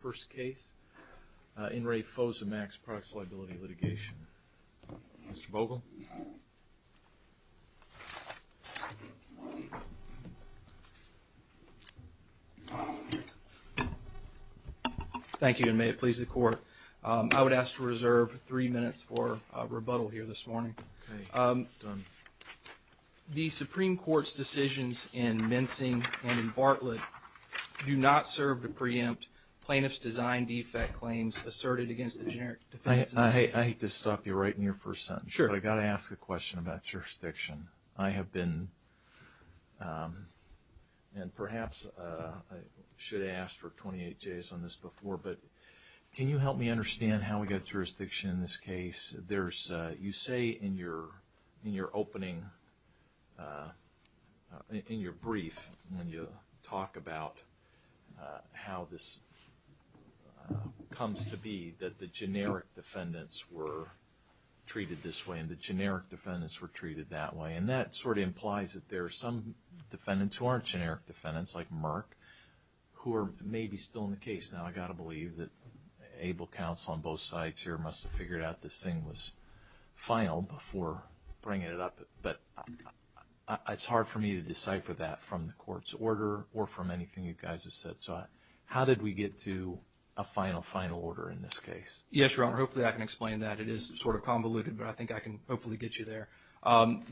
First case, In Re Fosomax Products Liability Litigation. Mr. Vogel. Thank you and may it please the court. I would ask to reserve three minutes for rebuttal here this morning. Okay, done. The Supreme Court's decisions in Mincing and in Bartlett do not serve to preempt plaintiff's design defect claims asserted against the generic defense in this case. I hate to stop you right in your first sentence, but I've got to ask a question about jurisdiction. I have been, and perhaps I should have asked for 28 days on this before, but can you help me understand how we got jurisdiction in this case? You say in your opening, in your brief, when you talk about how this comes to be that the generic defendants were treated this way and the generic defendants were treated that way. And that sort of implies that there are some defendants who aren't generic defendants like Merck who are maybe still in the case. Now I've got to believe that able counsel on both sides here must have figured out this thing was final before bringing it up. But it's hard for me to decipher that from the court's order or from anything you guys have said. So how did we get to a final, final order in this case? Yes, Your Honor. Hopefully I can explain that. It is sort of convoluted, but I think I can hopefully get you there.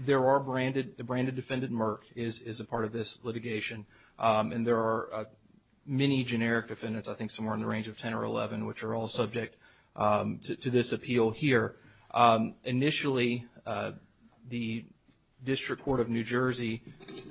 There are branded, the branded defendant Merck is a part of this litigation. And there are many generic defendants, I think somewhere in the range of 10 or 11, which are all subject to this appeal here. Initially, the District Court of New Jersey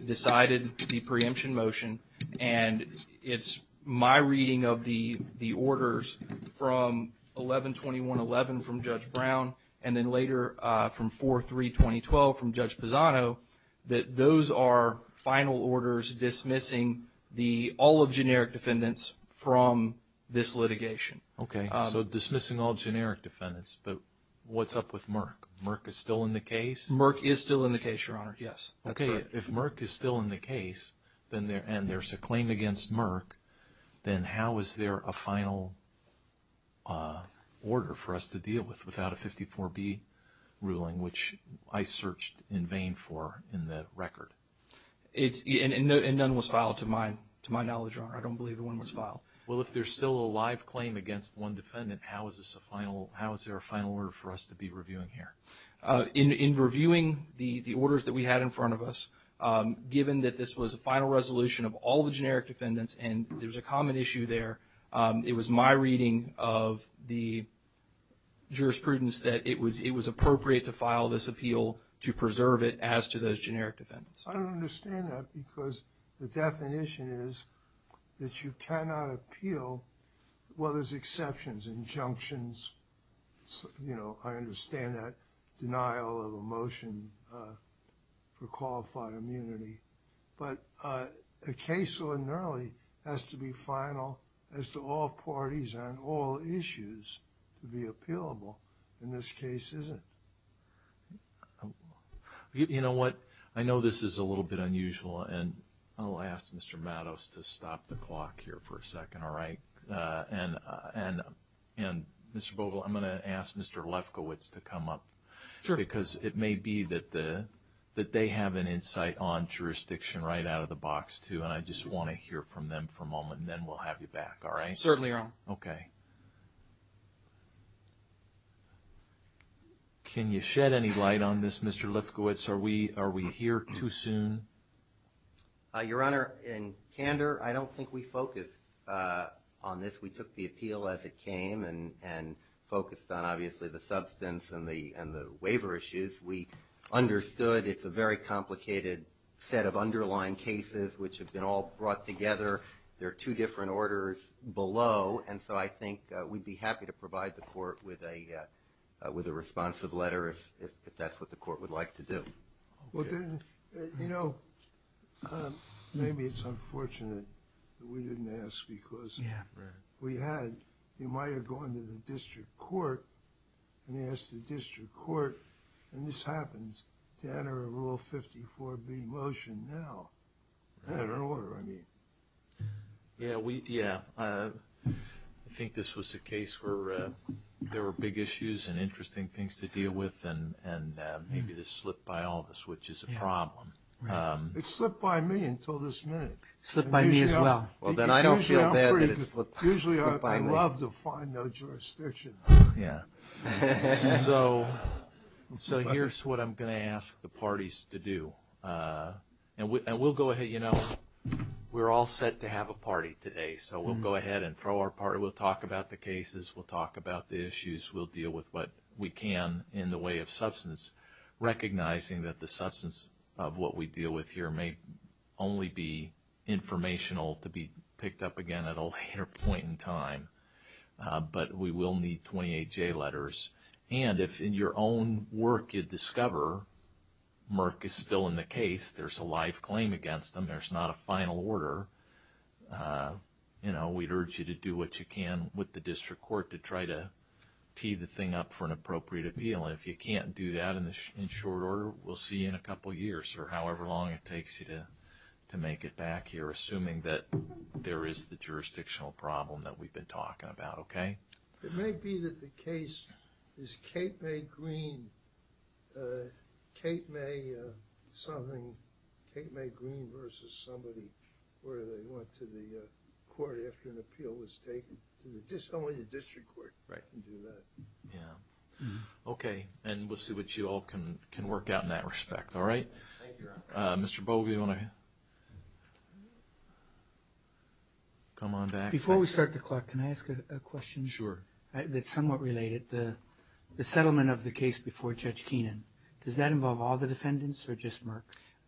decided the preemption motion. And it's my reading of the orders from 11-21-11 from Judge Brown and then later from 4-3-20-12 from Judge Pisano that those are final orders dismissing the all of generic defendants from this litigation. Okay. So dismissing all generic defendants. But what's up with Merck? Merck is still in the case? Merck is still in the case, Your Honor. Yes. Okay. If Merck is still in the case and there's a claim against Merck, then how is there a general order ruling, which I searched in vain for in the record? And none was filed, to my knowledge, Your Honor. I don't believe one was filed. Well, if there's still a live claim against one defendant, how is this a final, how is there a final order for us to be reviewing here? In reviewing the orders that we had in front of us, given that this was a final resolution of all the generic defendants and there's a common issue there, it was my reading of the jurisprudence that it was appropriate to file this appeal to preserve it as to those generic defendants. I don't understand that because the definition is that you cannot appeal, well, there's exceptions, injunctions, you know, I understand that denial of a motion for qualified immunity, but a case linearly has to be final as to all parties on all issues to be appealable. In this case, isn't. You know what? I know this is a little bit unusual and I'll ask Mr. Matos to stop the clock here for a second, all right? And Mr. Vogel, I'm going to ask Mr. Lefkowitz to come up because it may be that they have an insight on jurisdiction right out of the box too and I just want to hear from them for a moment and then we'll have you back, all right? Certainly, Your Honor. Okay. Can you shed any light on this, Mr. Lefkowitz? Are we here too soon? Your Honor, in candor, I don't think we focused on this. We took the appeal as it came and focused on obviously the substance and the waiver issues. We understood it's a very complicated set of underlying cases which have been all brought together. There are two different orders below and so I think we'd be happy to provide the court with a responsive letter if that's what the court would like to do. Well then, you know, maybe it's unfortunate that we didn't ask because we had, you might have gone to the district court and asked the district court and this happens to enter a Rule 54B motion now. I don't know what I mean. Yeah, we, yeah. I think this was a case where there were big issues and interesting things to deal with and maybe this slipped by all of us which is a problem. It slipped by me until this minute. Slipped by me as well. Well then I don't feel bad that it slipped by me. Usually I love to find no jurisdiction. Yeah. So here's what I'm going to ask the parties to do. And we'll go ahead, you know, we're all set to have a party today so we'll go ahead and throw our party. We'll talk about the cases, we'll talk about the issues, we'll deal with what we can in the way of substance recognizing that the substance of what we deal with here may only be informational to be picked up again at a later point in time. But we will need 28J letters. And if in your own work you discover Merck is still in the case, there's a life claim against them, there's not a final order, you know, we'd urge you to do what you can with the district court to try to tee the thing up for an appropriate appeal. And if you can't do that in short order, we'll see you in a couple years or however long it takes you to make it back here assuming that there is the jurisdictional problem that we've been talking about, okay? It may be that the case is Kate Mae Green versus somebody where they went to the court after an appeal was taken. Only the district court can do that. Yeah. Okay. And we'll see what you all can work out in that respect, all right? Thank you, Your Honor. Mr. Bogle, do you want to come on back? Before we start the clock, can I ask a question? Sure. That's somewhat related. The settlement of the case before Judge Keenan, does that involve all the defendants or just Merck?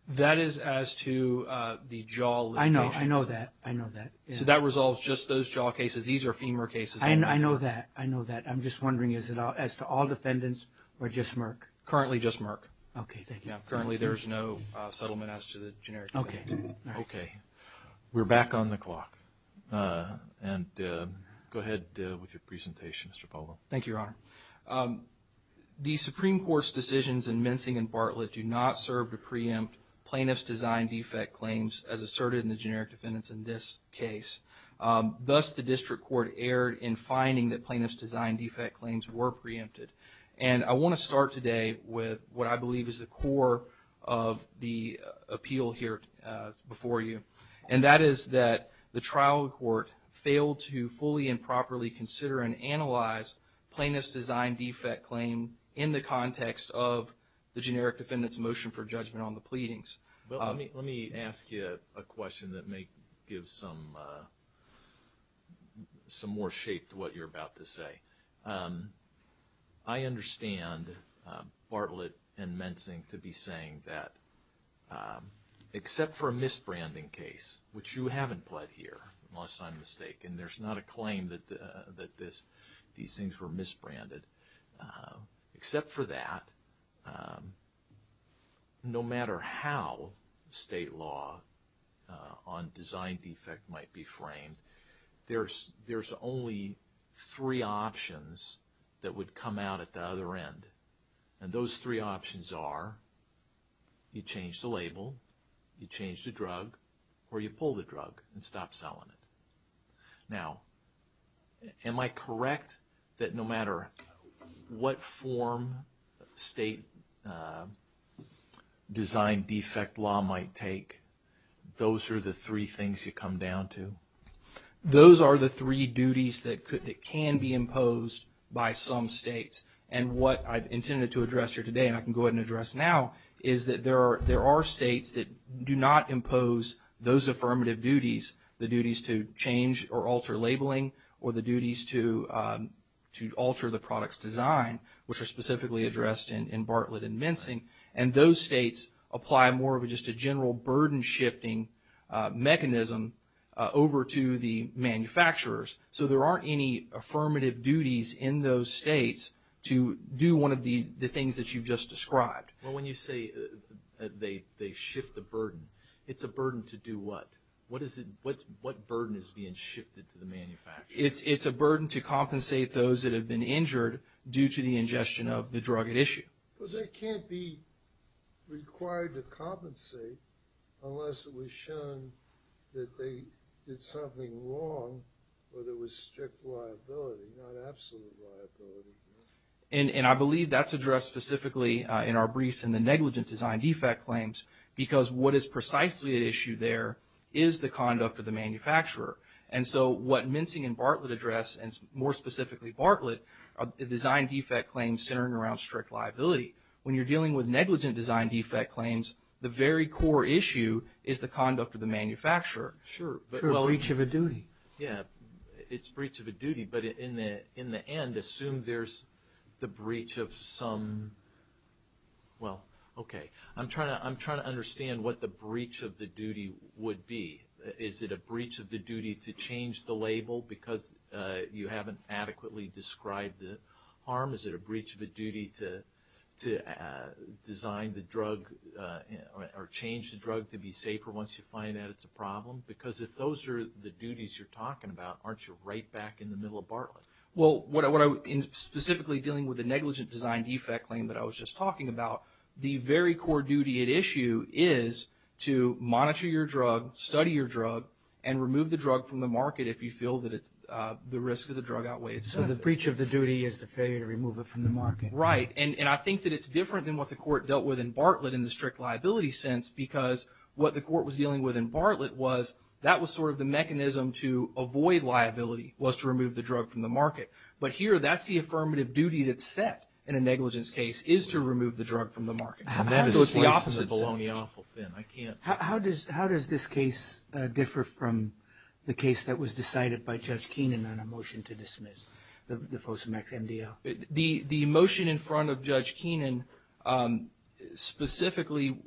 That is as to the jaw litigation. I know. I know that. I know that. So that resolves just those jaw cases. These are femur cases. I know that. I know that. I'm just wondering, is it as to all defendants or just Merck? Currently just Merck. Okay. Thank you. Currently there's no settlement as to the generic case. Okay. All right. Okay. We're back on the clock. And go ahead with your presentation, Mr. Bogle. Thank you, Your Honor. The Supreme Court's decisions in Mensing and Bartlett do not serve to preempt plaintiff's design defect claims as asserted in the generic defendants in this case. Thus, the district court erred in finding that plaintiff's design defect claims were preempted. And I want to start today with what I believe is the core of the appeal here before you. And that is that the trial court failed to fully and properly consider and analyze plaintiff's design defect claim in the context of the generic defendant's motion for judgment on the pleadings. Well, let me ask you a question that may give some more shape to what you're about to say. I understand Bartlett and Mensing to be saying that except for a misbranding case, which you haven't pled here, unless I'm mistaken. There's not a claim that these things were misbranded. Except for that, no matter how state law on design defect might be framed, there's only three options that would come out at the other end. And those three options are, you change the label, you change the drug, or you pull the drug and stop selling it. Now, am I correct that no matter what form state design defect law might take, those are the three things you come down to? Those are the three duties that can be imposed by some states. And what I've intended to address here today, and I can go ahead and address now, is that there are states that do not impose those affirmative duties, the duties to change or alter labeling, or the duties to alter the product's design, which are specifically addressed in Bartlett and Mensing. And those states apply more of just a general burden-shifting mechanism over to the manufacturers. So there aren't any affirmative duties in those states to do one of the things that you've just described. Well, when you say they shift the burden, it's a burden to do what? What burden is being shifted to the manufacturers? It's a burden to compensate those that have been injured due to the ingestion of the drug at issue. But they can't be required to compensate unless it was shown that they did something wrong or there was strict liability, not absolute liability. And I believe that's addressed specifically in our briefs in the negligent design defect claims, because what is precisely at issue there is the conduct of the manufacturer. And so what Mensing and Bartlett address, and more specifically Bartlett, are design defect claims centering around strict liability. When you're dealing with negligent design defect claims, the very core issue is the conduct of the manufacturer. Sure. It's a breach of a duty. Yeah, it's a breach of a duty. But in the end, assume there's the breach of some – well, okay. I'm trying to understand what the breach of the duty would be. Is it a breach of the duty to change the label because you haven't adequately described the harm? Is it a breach of a duty to design the drug or change the drug to be safer once you find out it's a problem? Because if those are the duties you're talking about, aren't you right back in the middle of Bartlett? Well, in specifically dealing with the negligent design defect claim that I was just talking about, the very core duty at issue is to monitor your drug, study your drug, and remove the drug from the market if you feel that the risk of the drug outweighs. So the breach of the duty is the failure to remove it from the market. Right. And I think that it's different than what the court dealt with in Bartlett in the strict liability sense because what the court was dealing with in Bartlett was that was sort of the mechanism to avoid liability, was to remove the drug from the market. But here that's the affirmative duty that's set in a negligence case, is to remove the drug from the market. So it's the opposite. How does this case differ from the case that was decided by Judge Keenan on a motion to dismiss the Fosamax MDL? The motion in front of Judge Keenan specifically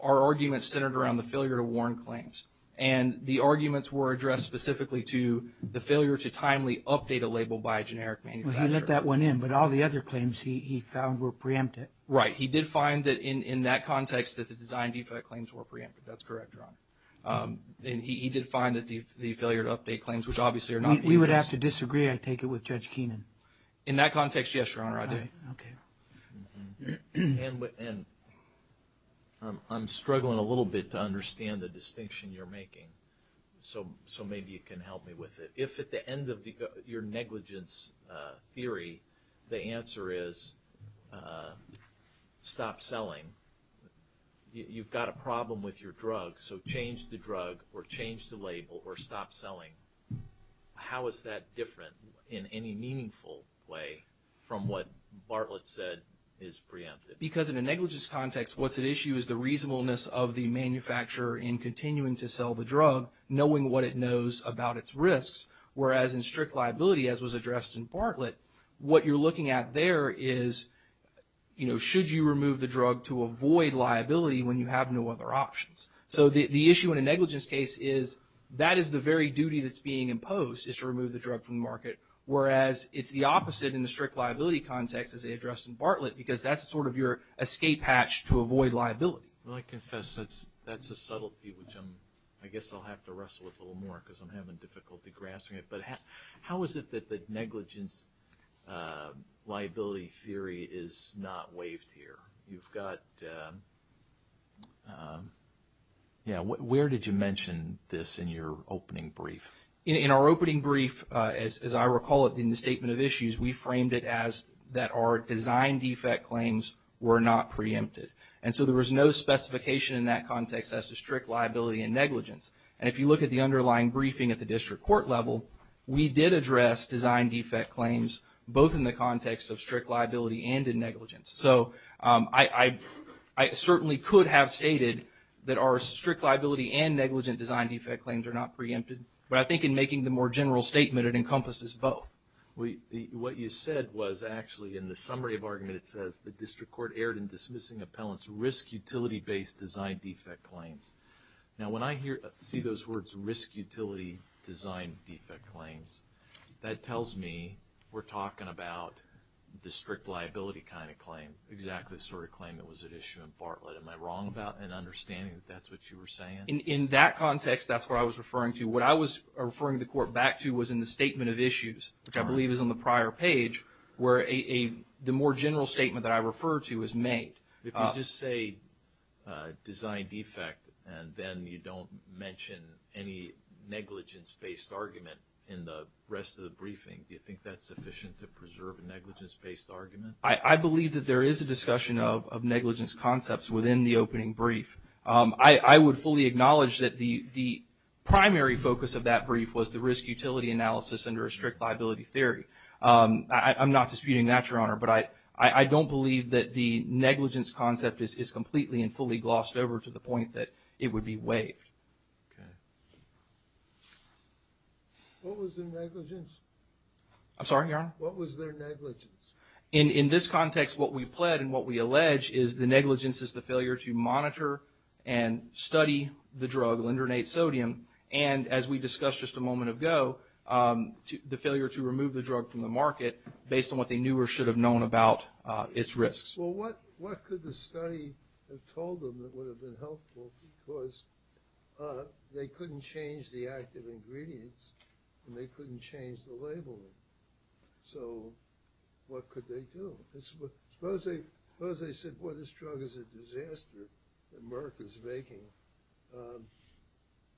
our argument centered around the failure to warn claims. And the arguments were addressed specifically to the failure to timely update a label by a generic manufacturer. He let that one in, but all the other claims he found were preemptive. Right. He did find that in that context that the design defect claims were preemptive. That's correct, Your Honor. And he did find that the failure to update claims, which obviously are not being addressed. We would have to disagree, I take it, with Judge Keenan. In that context, yes, Your Honor, I do. Okay. And I'm struggling a little bit to understand the distinction you're making, so maybe you can help me with it. If at the end of your negligence theory, the answer is stop selling, you've got a problem with your drug, so change the drug or change the label or stop selling, how is that different in any meaningful way from what Bartlett said is preemptive? Because in a negligence context, what's at issue is the reasonableness of the manufacturer in continuing to sell the drug, knowing what it knows about its risks, whereas in strict liability, as was addressed in Bartlett, what you're looking at there is, you know, should you remove the drug to avoid liability when you have no other options? So the issue in a negligence case is that is the very duty that's being imposed, is to remove the drug from the market, whereas it's the opposite in the strict liability context, as they addressed in Bartlett, because that's sort of your escape hatch to avoid liability. Well, I confess that's a subtlety which I guess I'll have to wrestle with a little more because I'm having difficulty grasping it, but how is it that the negligence liability theory is not waived here? You've got, yeah, where did you mention this in your opening brief? In our opening brief, as I recall it in the statement of issues, we framed it as that our design defect claims were not preempted. And so there was no specification in that context as to strict liability and negligence. And if you look at the underlying briefing at the district court level, we did address design defect claims both in the context of strict liability and in negligence. So I certainly could have stated that our strict liability and negligent design defect claims are not preempted, but I think in making the more general statement, it encompasses both. What you said was actually in the summary of arguments, it says the district court erred in dismissing appellant's risk utility-based design defect claims. Now, when I see those words risk utility design defect claims, that tells me we're talking about the strict liability kind of claim, exactly the sort of claim that was at issue in Bartlett. Am I wrong about an understanding that that's what you were saying? In that context, that's what I was referring to. What I was referring the court back to was in the statement of issues, which I believe is on the prior page, where the more general statement that I refer to is made. If you just say design defect and then you don't mention any negligence-based argument in the rest of the briefing, do you think that's sufficient to preserve a negligence-based argument? I believe that there is a discussion of negligence concepts within the opening brief. I would fully acknowledge that the primary focus of that brief was the risk liability theory. I'm not disputing that, Your Honor, but I don't believe that the negligence concept is completely and fully glossed over to the point that it would be waived. Okay. What was their negligence? I'm sorry, Your Honor? What was their negligence? In this context, what we pled and what we allege is the negligence is the failure to monitor and study the drug lindonate sodium. And as we discussed just a moment ago, the failure to remove the drug from the market based on what they knew or should have known about its risks. Well, what could the study have told them that would have been helpful because they couldn't change the active ingredients and they couldn't change the labeling. So what could they do? Suppose they said, boy, this drug is a disaster. America's making.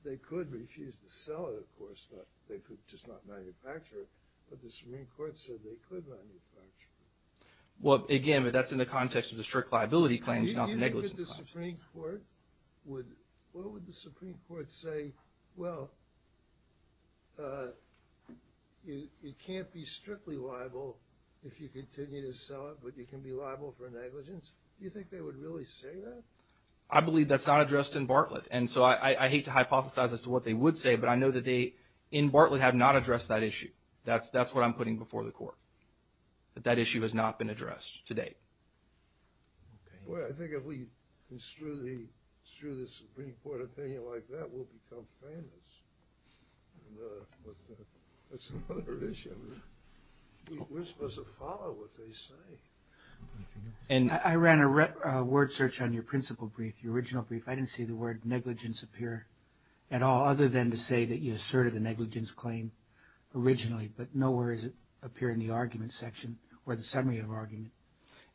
They could refuse to sell it, of course, but they could just not manufacture it. But the Supreme Court said they could manufacture it. Well, again, but that's in the context of the strict liability claims, not the negligence claims. What would the Supreme Court say? Well, it can't be strictly liable if you continue to sell it, but you can be liable for negligence. Do you think they would really say that? I believe that's not addressed in Bartlett. And so I hate to hypothesize as to what they would say, but I know that they in Bartlett have not addressed that issue. That's, that's what I'm putting before the court, but that issue has not been addressed today. Well, I think if we construe the Supreme Court opinion like that, we'll become famous. That's another issue. We're supposed to follow what they say. I ran a word search on your principal brief, your original brief. I didn't see the word negligence appear at all, other than to say that you asserted a negligence claim originally, but nowhere does it appear in the argument section or the summary of argument.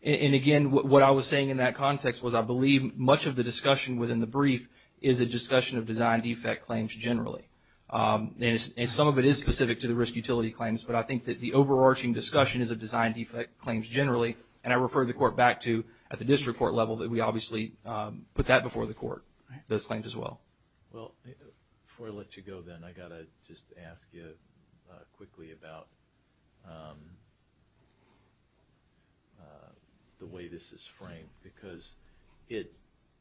And again, what I was saying in that context was I believe much of the discussion within the brief is a discussion of design defect claims generally. And some of it is specific to the risk utility claims, but I think that the overarching discussion is a design defect claims generally. And I refer the court back to at the district court level that we obviously put that before the court, those claims as well. Well, before I let you go, then I got to just ask you quickly about the way this is framed because it,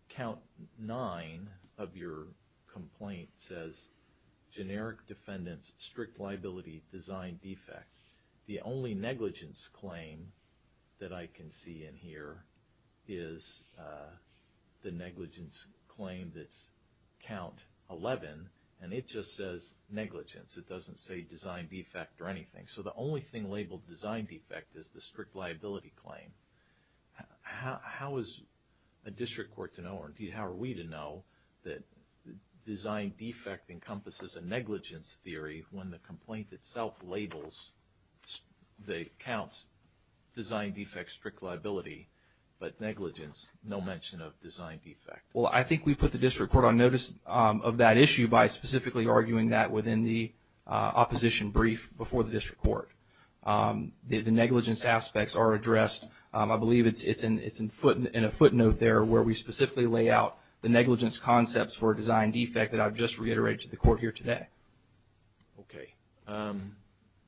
count nine of your complaint says generic defendants, strict liability, design defect. The only negligence claim that I can see in here is the negligence claim that's count 11. And it just says negligence. It doesn't say design defect or anything. So the only thing labeled design defect is the strict liability claim. How is a district court to know, or how are we to know that design defect encompasses a negligence theory when the complaint itself labels the counts design defects, strict liability, but negligence, no mention of design defect. Well, I think we put the district court on notice of that issue by specifically arguing that within the opposition brief before the district court, the negligence aspects are addressed. I believe it's in a footnote there where we specifically lay out the negligence concepts for design defect that I've just reiterated to the court here today.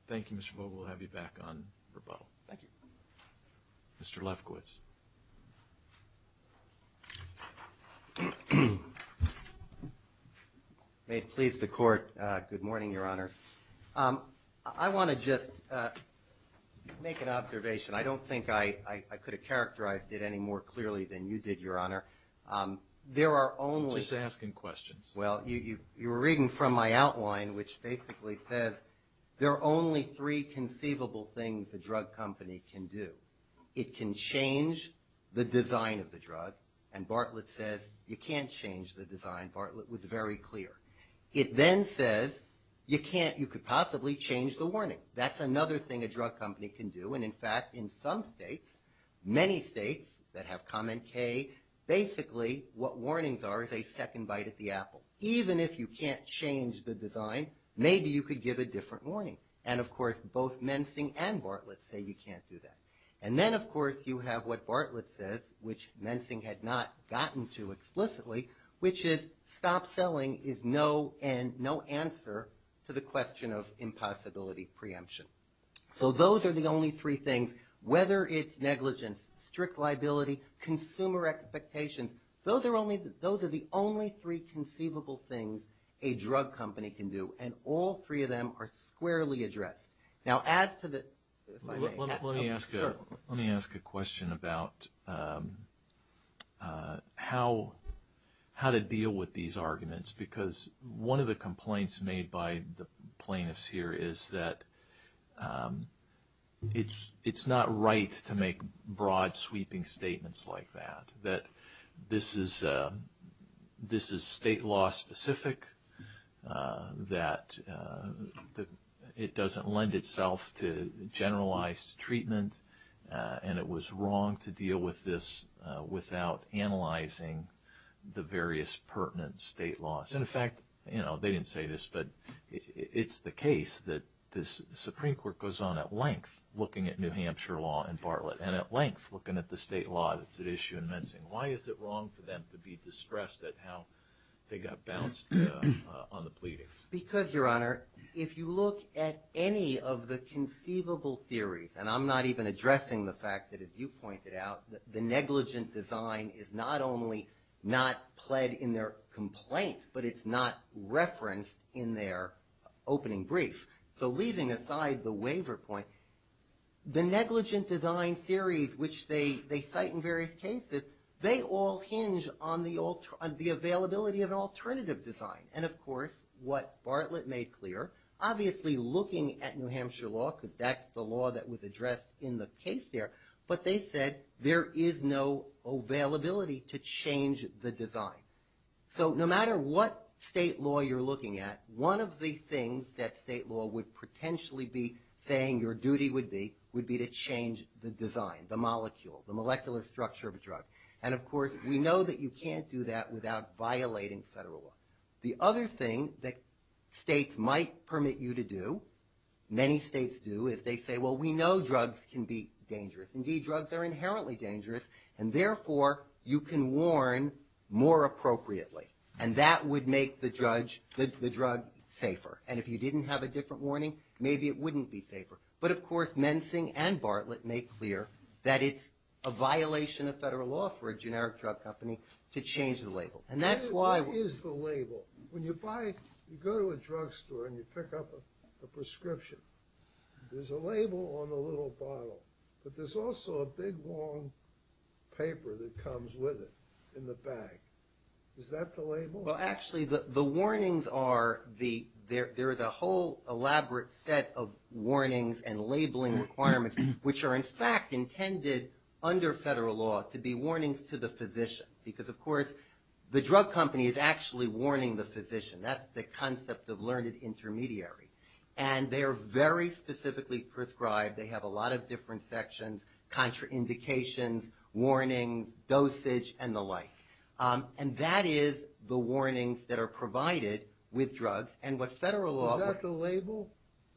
Thank you, Mr. Vogel. We'll have you back on rebuttal. Thank you. Mr. Lefkowitz. May it please the court. Good morning, your honors. I want to just make an observation. I don't think I could have characterized it any more clearly than you did, your honor. There are only. Just asking questions. Well, you were reading from my outline, which basically says there are only three conceivable things the drug company can do. It can change the design of the drug. And Bartlett says you can't change the design. Bartlett was very clear. It then says you can't, you could possibly change the warning. That's another thing a drug company can do. And in fact, in some states, many states that have comment K, basically what warnings are is a second bite at the apple. Even if you can't change the design, maybe you could give a different warning. And of course, both Mensing and Bartlett say you can't do that. And then of course you have what Bartlett says, which Mensing had not gotten to explicitly, which is stop selling is no end, no answer to the question of impossibility preemption. So those are the only three things, whether it's negligence, strict liability, consumer expectations. Those are only, those are the only three conceivable things a drug company can do. And all three of them are squarely addressed. Now, as to the, let me ask, let me ask a question about how, how to deal with these arguments, because one of the complaints made by the plaintiffs here is that it's, it's not right to make broad sweeping statements like that, that this is, this is state law specific, that it doesn't lend itself to generalized treatment. And it was wrong to deal with this without analyzing the various pertinent state laws. And in fact, you know, they didn't say this, but it's the case that this Supreme Court goes on at length looking at New Hampshire law and Bartlett and at length looking at the state law. That's an issue in Mensing. Why is it wrong for them to be distressed at how they got bounced on the pleadings? Because your honor, if you look at any of the conceivable theories, and I'm not even addressing the fact that as you pointed out, the negligent design is not only not pled in their complaint, but it's not referenced in their opening brief. So leaving aside the waiver point, the negligent design series, which they, they cite in various cases, they all hinge on the, on the availability of an alternative design. And of course, what Bartlett made clear, obviously looking at New Hampshire law, because that's the law that was addressed in the case there, but they said there is no availability to change the design. So no matter what state law you're looking at, one of the things that state law would potentially be saying your duty would be, would be to change the design, the molecule, the molecular structure of a drug. And of course, we know that you can't do that without violating federal law. The other thing that states might permit you to do, many states do, is they say, well, we know drugs can be dangerous. Indeed, drugs are inherently dangerous, and therefore you can warn more appropriately. And that would make the judge, the drug safer. And if you didn't have a different warning, maybe it wouldn't be safer. But of course, Mensing and Bartlett make clear that it's a violation of federal law for a generic drug company to change the label. And that's why. What is the label? When you buy, you go to a drug store and you pick up a prescription. There's a label on the little bottle, but there's also a big long paper that comes with it in the bag. Is that the label? Well, actually the warnings are the, there is a whole elaborate set of warnings and labeling requirements, which are in fact intended under federal law to be warnings to the physician. Because of course, the drug company is actually warning the physician. That's the concept of learned intermediary. And they are very specifically prescribed. They have a lot of different sections, contraindications, warnings, dosage, and the like. And that is the warnings that are provided with drugs. And what federal law. Is that the label?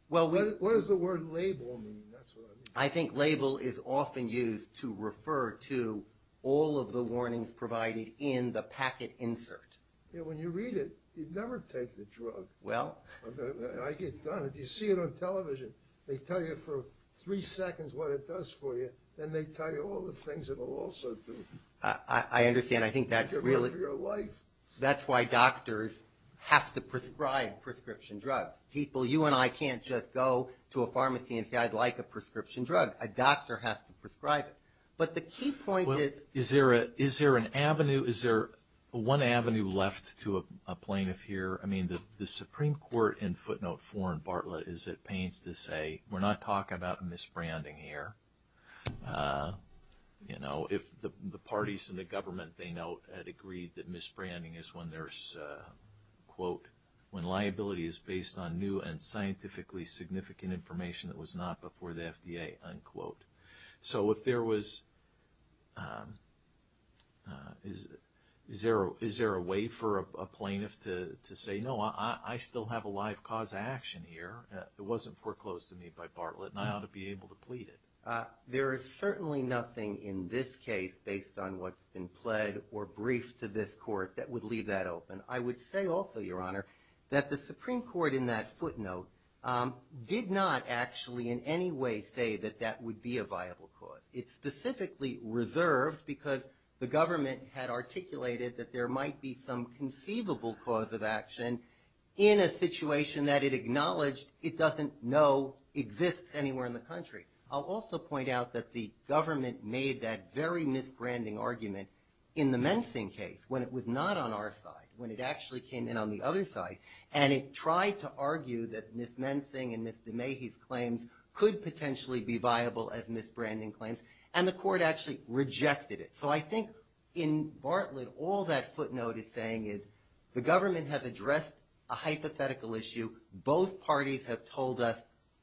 Well, what does the word label mean? That's what I mean. I think label is often used to refer to all of the warnings provided in the packet insert. Yeah, when you read it, you'd never take the drug. Well. I get done. If you see it on television, they tell you for three seconds what it does for you. Then they tell you all the things that it will also do. I understand. I think that's really. It's good for your life. That's why doctors have to prescribe prescription drugs. People, you and I can't just go to a pharmacy and say, I'd like a prescription drug. A doctor has to prescribe it. But the key point is. Is there an avenue? Is there one avenue left to a plaintiff here? I mean, the Supreme Court in footnote four in Bartlett is it pains to say, we're not talking about misbranding here. You know, if the parties in the government they know had agreed that misbranding is when there's a quote, when liability is based on new and scientifically significant information that was not before the FDA, unquote. So if there was. Is there a way for a plaintiff to say, no, I still have a live cause action here. It wasn't foreclosed to me by Bartlett, and I ought to be able to plead it. There is certainly nothing in this case based on what's been pled or briefed to this court that would leave that open. I would say also, Your Honor, that the Supreme Court in that footnote did not actually in any way say that that would be a viable cause. It's specifically reserved because the government had articulated that there might be some conceivable cause of action in a situation that it acknowledged it doesn't know exists anywhere in the country. I'll also point out that the government made that very misbranding argument in the mensing case when it was not on our side, when it actually came in on the other side, and it tried to argue that Ms. Mensing and Ms. DeMahie's claims could potentially be viable as misbranding claims, and the court actually rejected it. So I think in Bartlett, all that footnote is saying is the government has addressed a hypothetical issue. Both parties have told us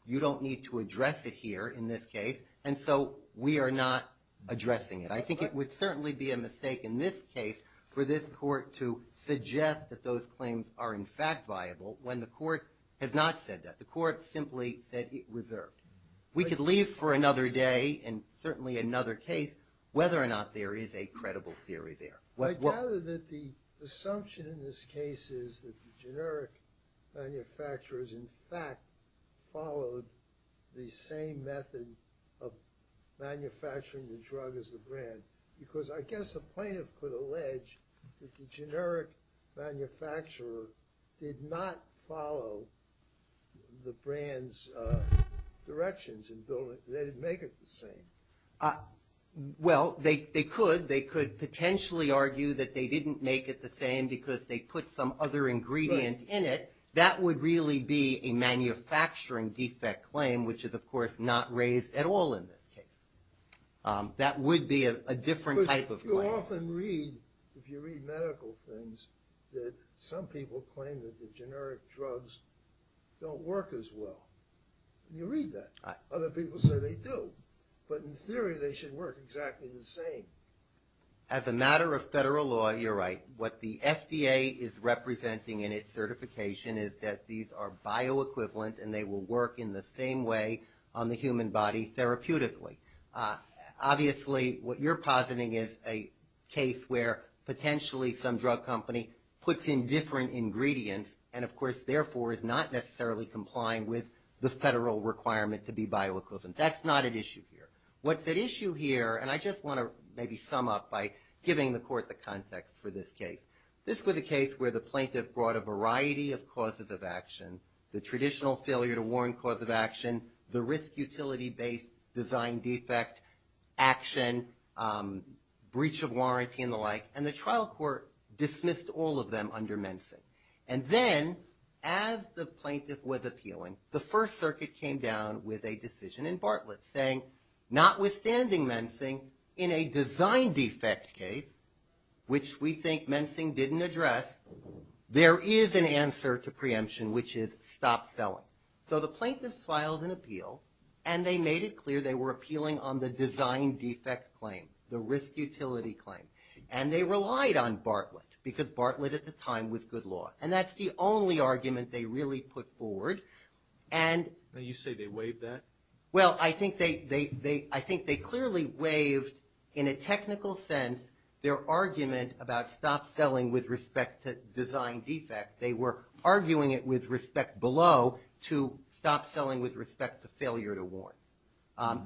you don't need to address it here in this case, and so we are not addressing it. I think it would certainly be a mistake in this case for this court to suggest that those claims are in fact viable, when the court has not said that. The court simply said it reserved. We could leave for another day, and certainly another case, whether or not there is a credible theory there. I gather that the assumption in this case is that the generic manufacturers, in fact, followed the same method of manufacturing the drug as the brand, because I guess the plaintiff could allege that the generic manufacturer did not follow the brand's directions in building it. They didn't make it the same. Well, they could. They could potentially argue that they didn't make it the same because they put some other ingredient in it. That would really be a manufacturing defect claim, which is, of course, not raised at all in this case. That would be a different type of claim. You often read, if you read medical things, that some people claim that the generic drugs don't work as well. You read that. Other people say they do. But in theory, they should work exactly the same. As a matter of federal law, you're right. What the FDA is representing in its certification is that these are bioequivalent, and they will work in the same way on the human body therapeutically. Obviously, what you're positing is a case where potentially some drug company puts in different ingredients and, of course, therefore is not necessarily complying with the federal requirement to be bioequivalent. That's not at issue here. What's at issue here, and I just want to maybe sum up by giving the court the context for this case. This was a case where the plaintiff brought a variety of causes of action, the traditional failure-to-warrant cause of action, the risk-utility-based design defect action, breach of warranty and the like, and the trial court dismissed all of them under Mensa. And then, as the plaintiff was appealing, the First Circuit came down with a decision in Bartlett saying, notwithstanding Mensa, in a design defect case, which we think Mensa didn't address, there is an answer to preemption, which is stop selling. So the plaintiffs filed an appeal, and they made it clear they were appealing on the design defect claim, the risk-utility claim, and they relied on Bartlett because Bartlett, at the time, was good law. And that's the only argument they really put forward. You say they waived that? Well, I think they clearly waived, in a technical sense, their argument about stop selling with respect to design defect. They were arguing it with respect below to stop selling with respect to failure-to-warrant.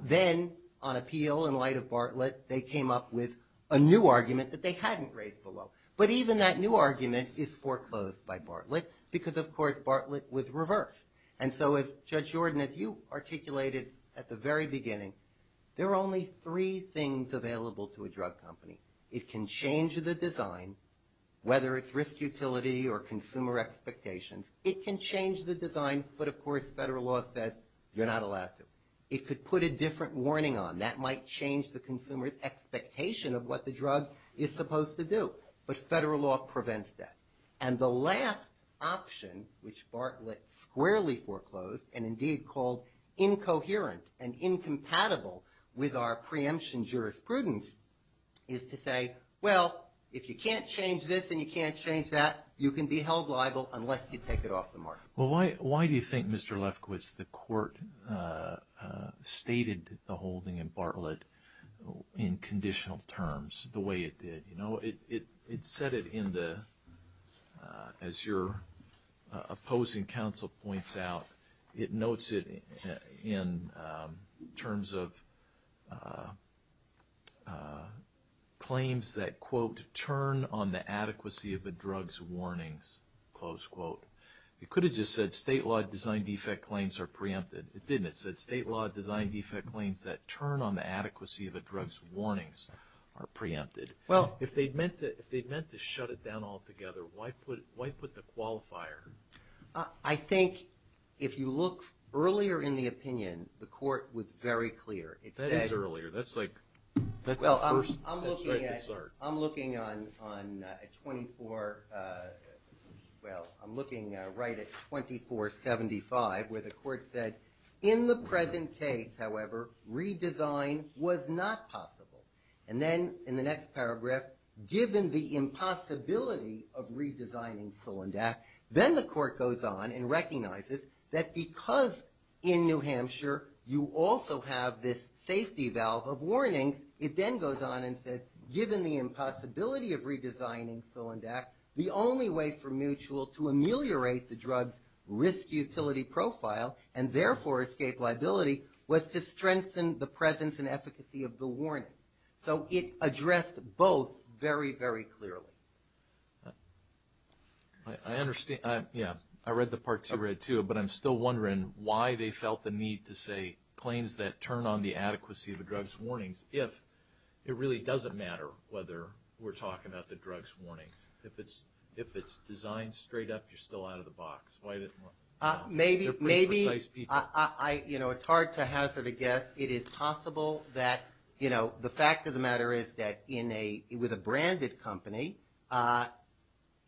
Then, on appeal, in light of Bartlett, they came up with a new argument that they hadn't raised below. But even that new argument is foreclosed by Bartlett because, of course, Bartlett was reversed. And so, as Judge Jordan, as you articulated at the very beginning, there are only three things available to a drug company. It can change the design, whether it's risk-utility or consumer expectations, it can change the design, but, of course, federal law says you're not allowed to. It could put a different warning on. That might change the consumer's expectation of what the drug is supposed to do, but federal law prevents that. And the last option, which Bartlett squarely foreclosed and, indeed, called incoherent and incompatible with our preemption jurisprudence, is to say, well, if you can't change this and you can't change that, you can be held liable unless you take it off the market. Well, why do you think, Mr. Lefkowitz, the Court stated the holding in Bartlett in conditional terms the way it did? It said it in the, as your opposing counsel points out, it notes it in terms of claims that, quote, turn on the adequacy of a drug's warnings, close quote. It could have just said state-law design defect claims are preempted. It didn't. It said state-law design defect claims that turn on the adequacy of a drug's warnings are preempted. If they'd meant to shut it down altogether, why put the qualifier? I think if you look earlier in the opinion, the Court was very clear. That is earlier. Well, I'm looking at 24, well, I'm looking right at 2475 where the Court said in the present case, however, redesign was not possible. And then in the next paragraph, given the impossibility of redesigning Solondak, then the Court goes on and recognizes that because in New Hampshire you also have this safety valve of warnings, it then goes on and says given the impossibility of redesigning Solondak, the only way for Mutual to ameliorate the drug's risk utility profile and therefore escape liability was to strengthen the presence and efficacy of the warning. So it addressed both very, very clearly. I understand. Yeah, I read the parts you read too, but I'm still wondering why they felt the need to say claims that turn on the adequacy of the drug's warnings if it really doesn't matter whether we're talking about the drug's warnings. If it's designed straight up, you're still out of the box. Maybe, you know, it's hard to hazard a guess. It is possible that, you know, the fact of the matter is that in a, with a branded company,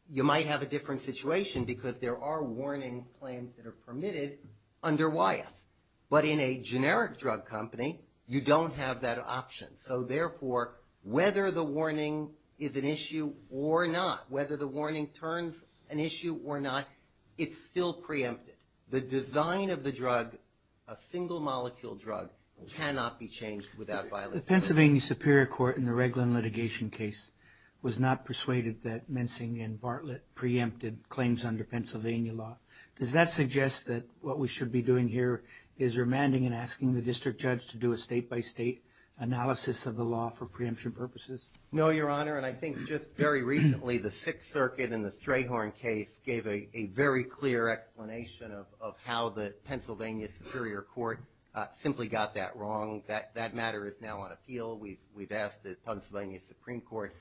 you might have a different situation because there are warning claims that are permitted under Wyeth. But in a generic drug company, you don't have that option. So therefore, whether the warning is an issue or not, whether the warning turns an issue or not, it's still preempted. The design of the drug, a single molecule drug, cannot be changed without violation. The Pennsylvania Superior Court in the Reglan litigation case was not persuaded that Mensing and Bartlett preempted claims under Pennsylvania law. Does that suggest that what we should be doing here is remanding and asking the district judge to do a state-by-state analysis of the law for preemption purposes? No, Your Honor, and I think just very recently the Sixth Circuit in the Strayhorn case gave a very clear explanation of how the Pennsylvania Superior Court simply got that wrong. That matter is now on appeal. We've asked the Pennsylvania Supreme Court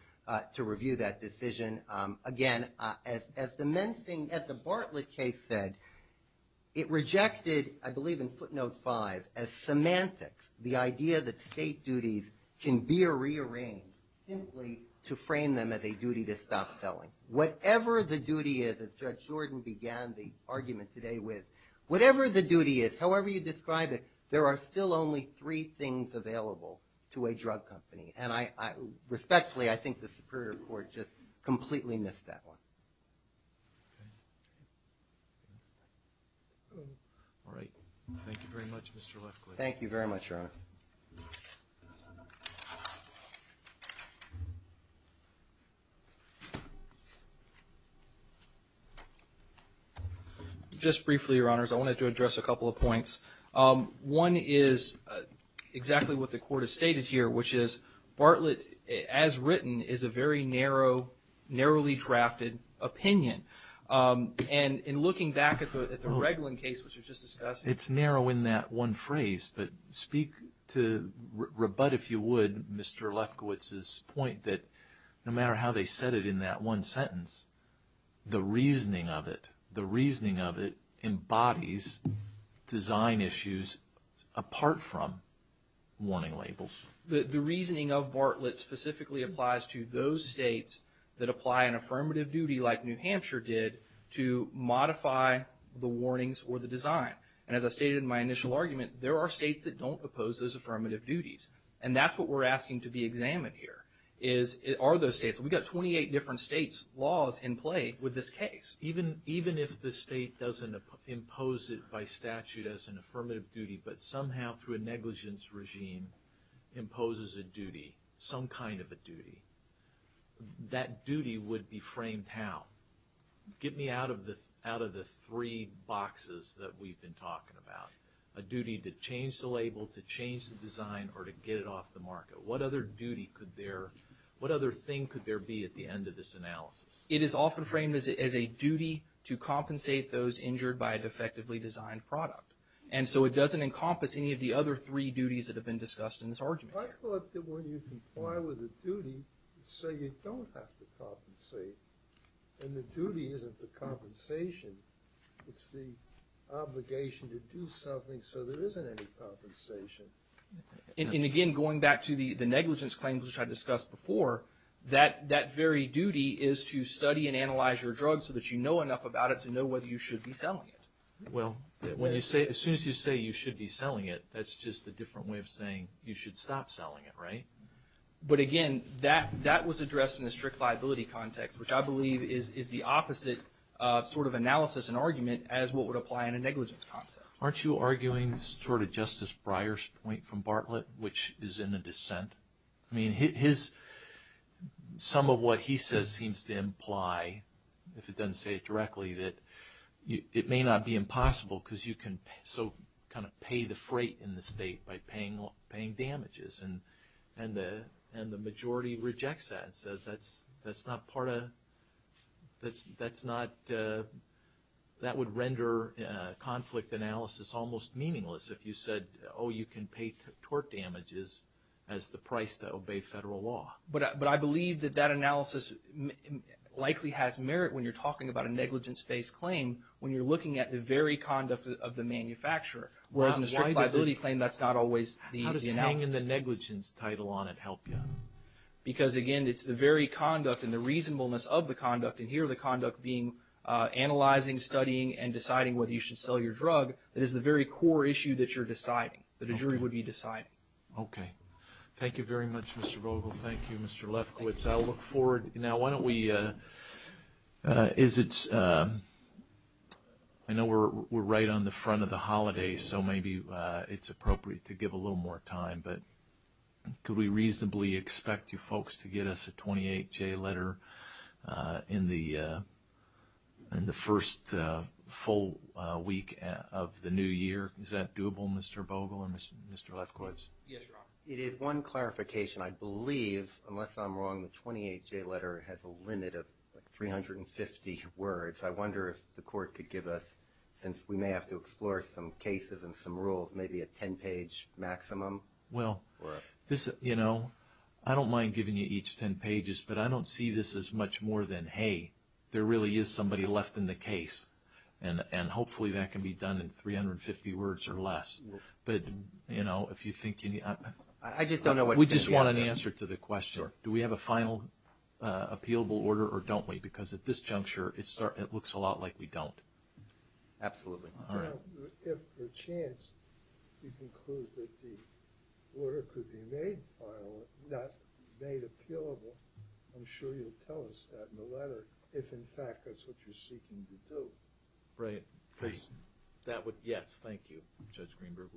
to review that decision. Again, as the Mensing, as the Bartlett case said, it rejected, I believe in footnote five, as semantics, the idea that state duties can be rearranged simply to frame them as a duty to stop selling. Whatever the duty is, as Judge Jordan began the argument today with, whatever the duty is, however you describe it, there are still only three things available to a drug company. And respectfully, I think the Superior Court just completely missed that one. All right. Thank you very much, Mr. Lefkowitz. Thank you very much, Your Honor. Just briefly, Your Honors, I wanted to address a couple of points. One is exactly what the Court has stated here, which is Bartlett, as written, is a very narrowly drafted opinion. And in looking back at the Reglan case, which was just discussed. It's narrow in that one phrase, but speak to, rebut, if you would, Mr. Lefkowitz's point that no matter how they said it in that one sentence, the reasoning of it, the reasoning of it, embodies design issues apart from warning labels. The reasoning of Bartlett specifically applies to those states that apply an affirmative duty, like New Hampshire did, to modify the warnings or the design. And as I stated in my initial argument, there are states that don't oppose those affirmative duties. And that's what we're asking to be examined here, are those states. We've got 28 different states' laws in play with this case. Even if the state doesn't impose it by statute as an affirmative duty, but somehow through a negligence regime imposes a duty, some kind of a duty, that duty would be framed how? Get me out of the three boxes that we've been talking about. A duty to change the label, to change the design, or to get it off the market. What other duty could there, what other thing could there be at the end of this analysis? It is often framed as a duty to compensate those injured by a defectively designed product. And so it doesn't encompass any of the other three duties that have been discussed in this argument. I thought that when you comply with a duty, so you don't have to compensate, then the duty isn't the compensation, it's the obligation to do something so there isn't any compensation. And again, going back to the negligence claim which I discussed before, that very duty is to study and analyze your drug so that you know enough about it to know whether you should be selling it. Well, as soon as you say you should be selling it, that's just a different way of saying you should stop selling it, right? But again, that was addressed in a strict liability context, which I believe is the opposite sort of analysis and argument as what would apply in a negligence concept. Aren't you arguing sort of Justice Breyer's point from Bartlett, which is in a dissent? I mean, his, some of what he says seems to imply, if it doesn't say it directly, that it may not be impossible because you can so kind of pay the freight in the state by paying damages. And the majority rejects that and says that's not part of, that's not, that would render conflict analysis almost meaningless if you said, oh, you can pay torque damages as the price to obey federal law. But I believe that that analysis likely has merit when you're talking about a negligence-based claim when you're looking at the very conduct of the manufacturer, whereas in a strict liability claim, that's not always the analysis. How can the negligence title on it help you? Because, again, it's the very conduct and the reasonableness of the conduct, and here the conduct being analyzing, studying, and deciding whether you should sell your drug, that is the very core issue that you're deciding, that a jury would be deciding. Okay. Thank you very much, Mr. Vogel. Thank you, Mr. Lefkowitz. I'll look forward. Now, why don't we, is it, I know we're right on the front of the holiday, so maybe it's appropriate to give a little more time, but could we reasonably expect you folks to get us a 28-J letter in the first full week of the new year? Is that doable, Mr. Vogel or Mr. Lefkowitz? Yes, Your Honor. It is one clarification. I believe, unless I'm wrong, the 28-J letter has a limit of 350 words. I wonder if the court could give us, since we may have to explore some cases and some rules, maybe a 10-page maximum? Well, you know, I don't mind giving you each 10 pages, but I don't see this as much more than, hey, there really is somebody left in the case, and hopefully that can be done in 350 words or less. But, you know, if you think, we just want an answer to the question. Do we have a final appealable order or don't we? Because at this juncture, it looks a lot like we don't. Absolutely not. If, per chance, you conclude that the order could be made final, not made appealable, I'm sure you'll tell us that in the letter if, in fact, that's what you're seeking to do. Right. Yes, thank you, Judge Greenberg.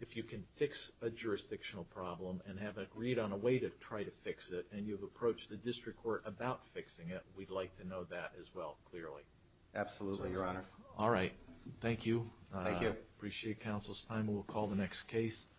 If you can fix a jurisdictional problem and have it agreed on a way to try to fix it, and you've approached the district court about fixing it, we'd like to know that as well, clearly. Absolutely, Your Honor. All right. Thank you. Thank you. Appreciate counsel's time. We'll call the next case.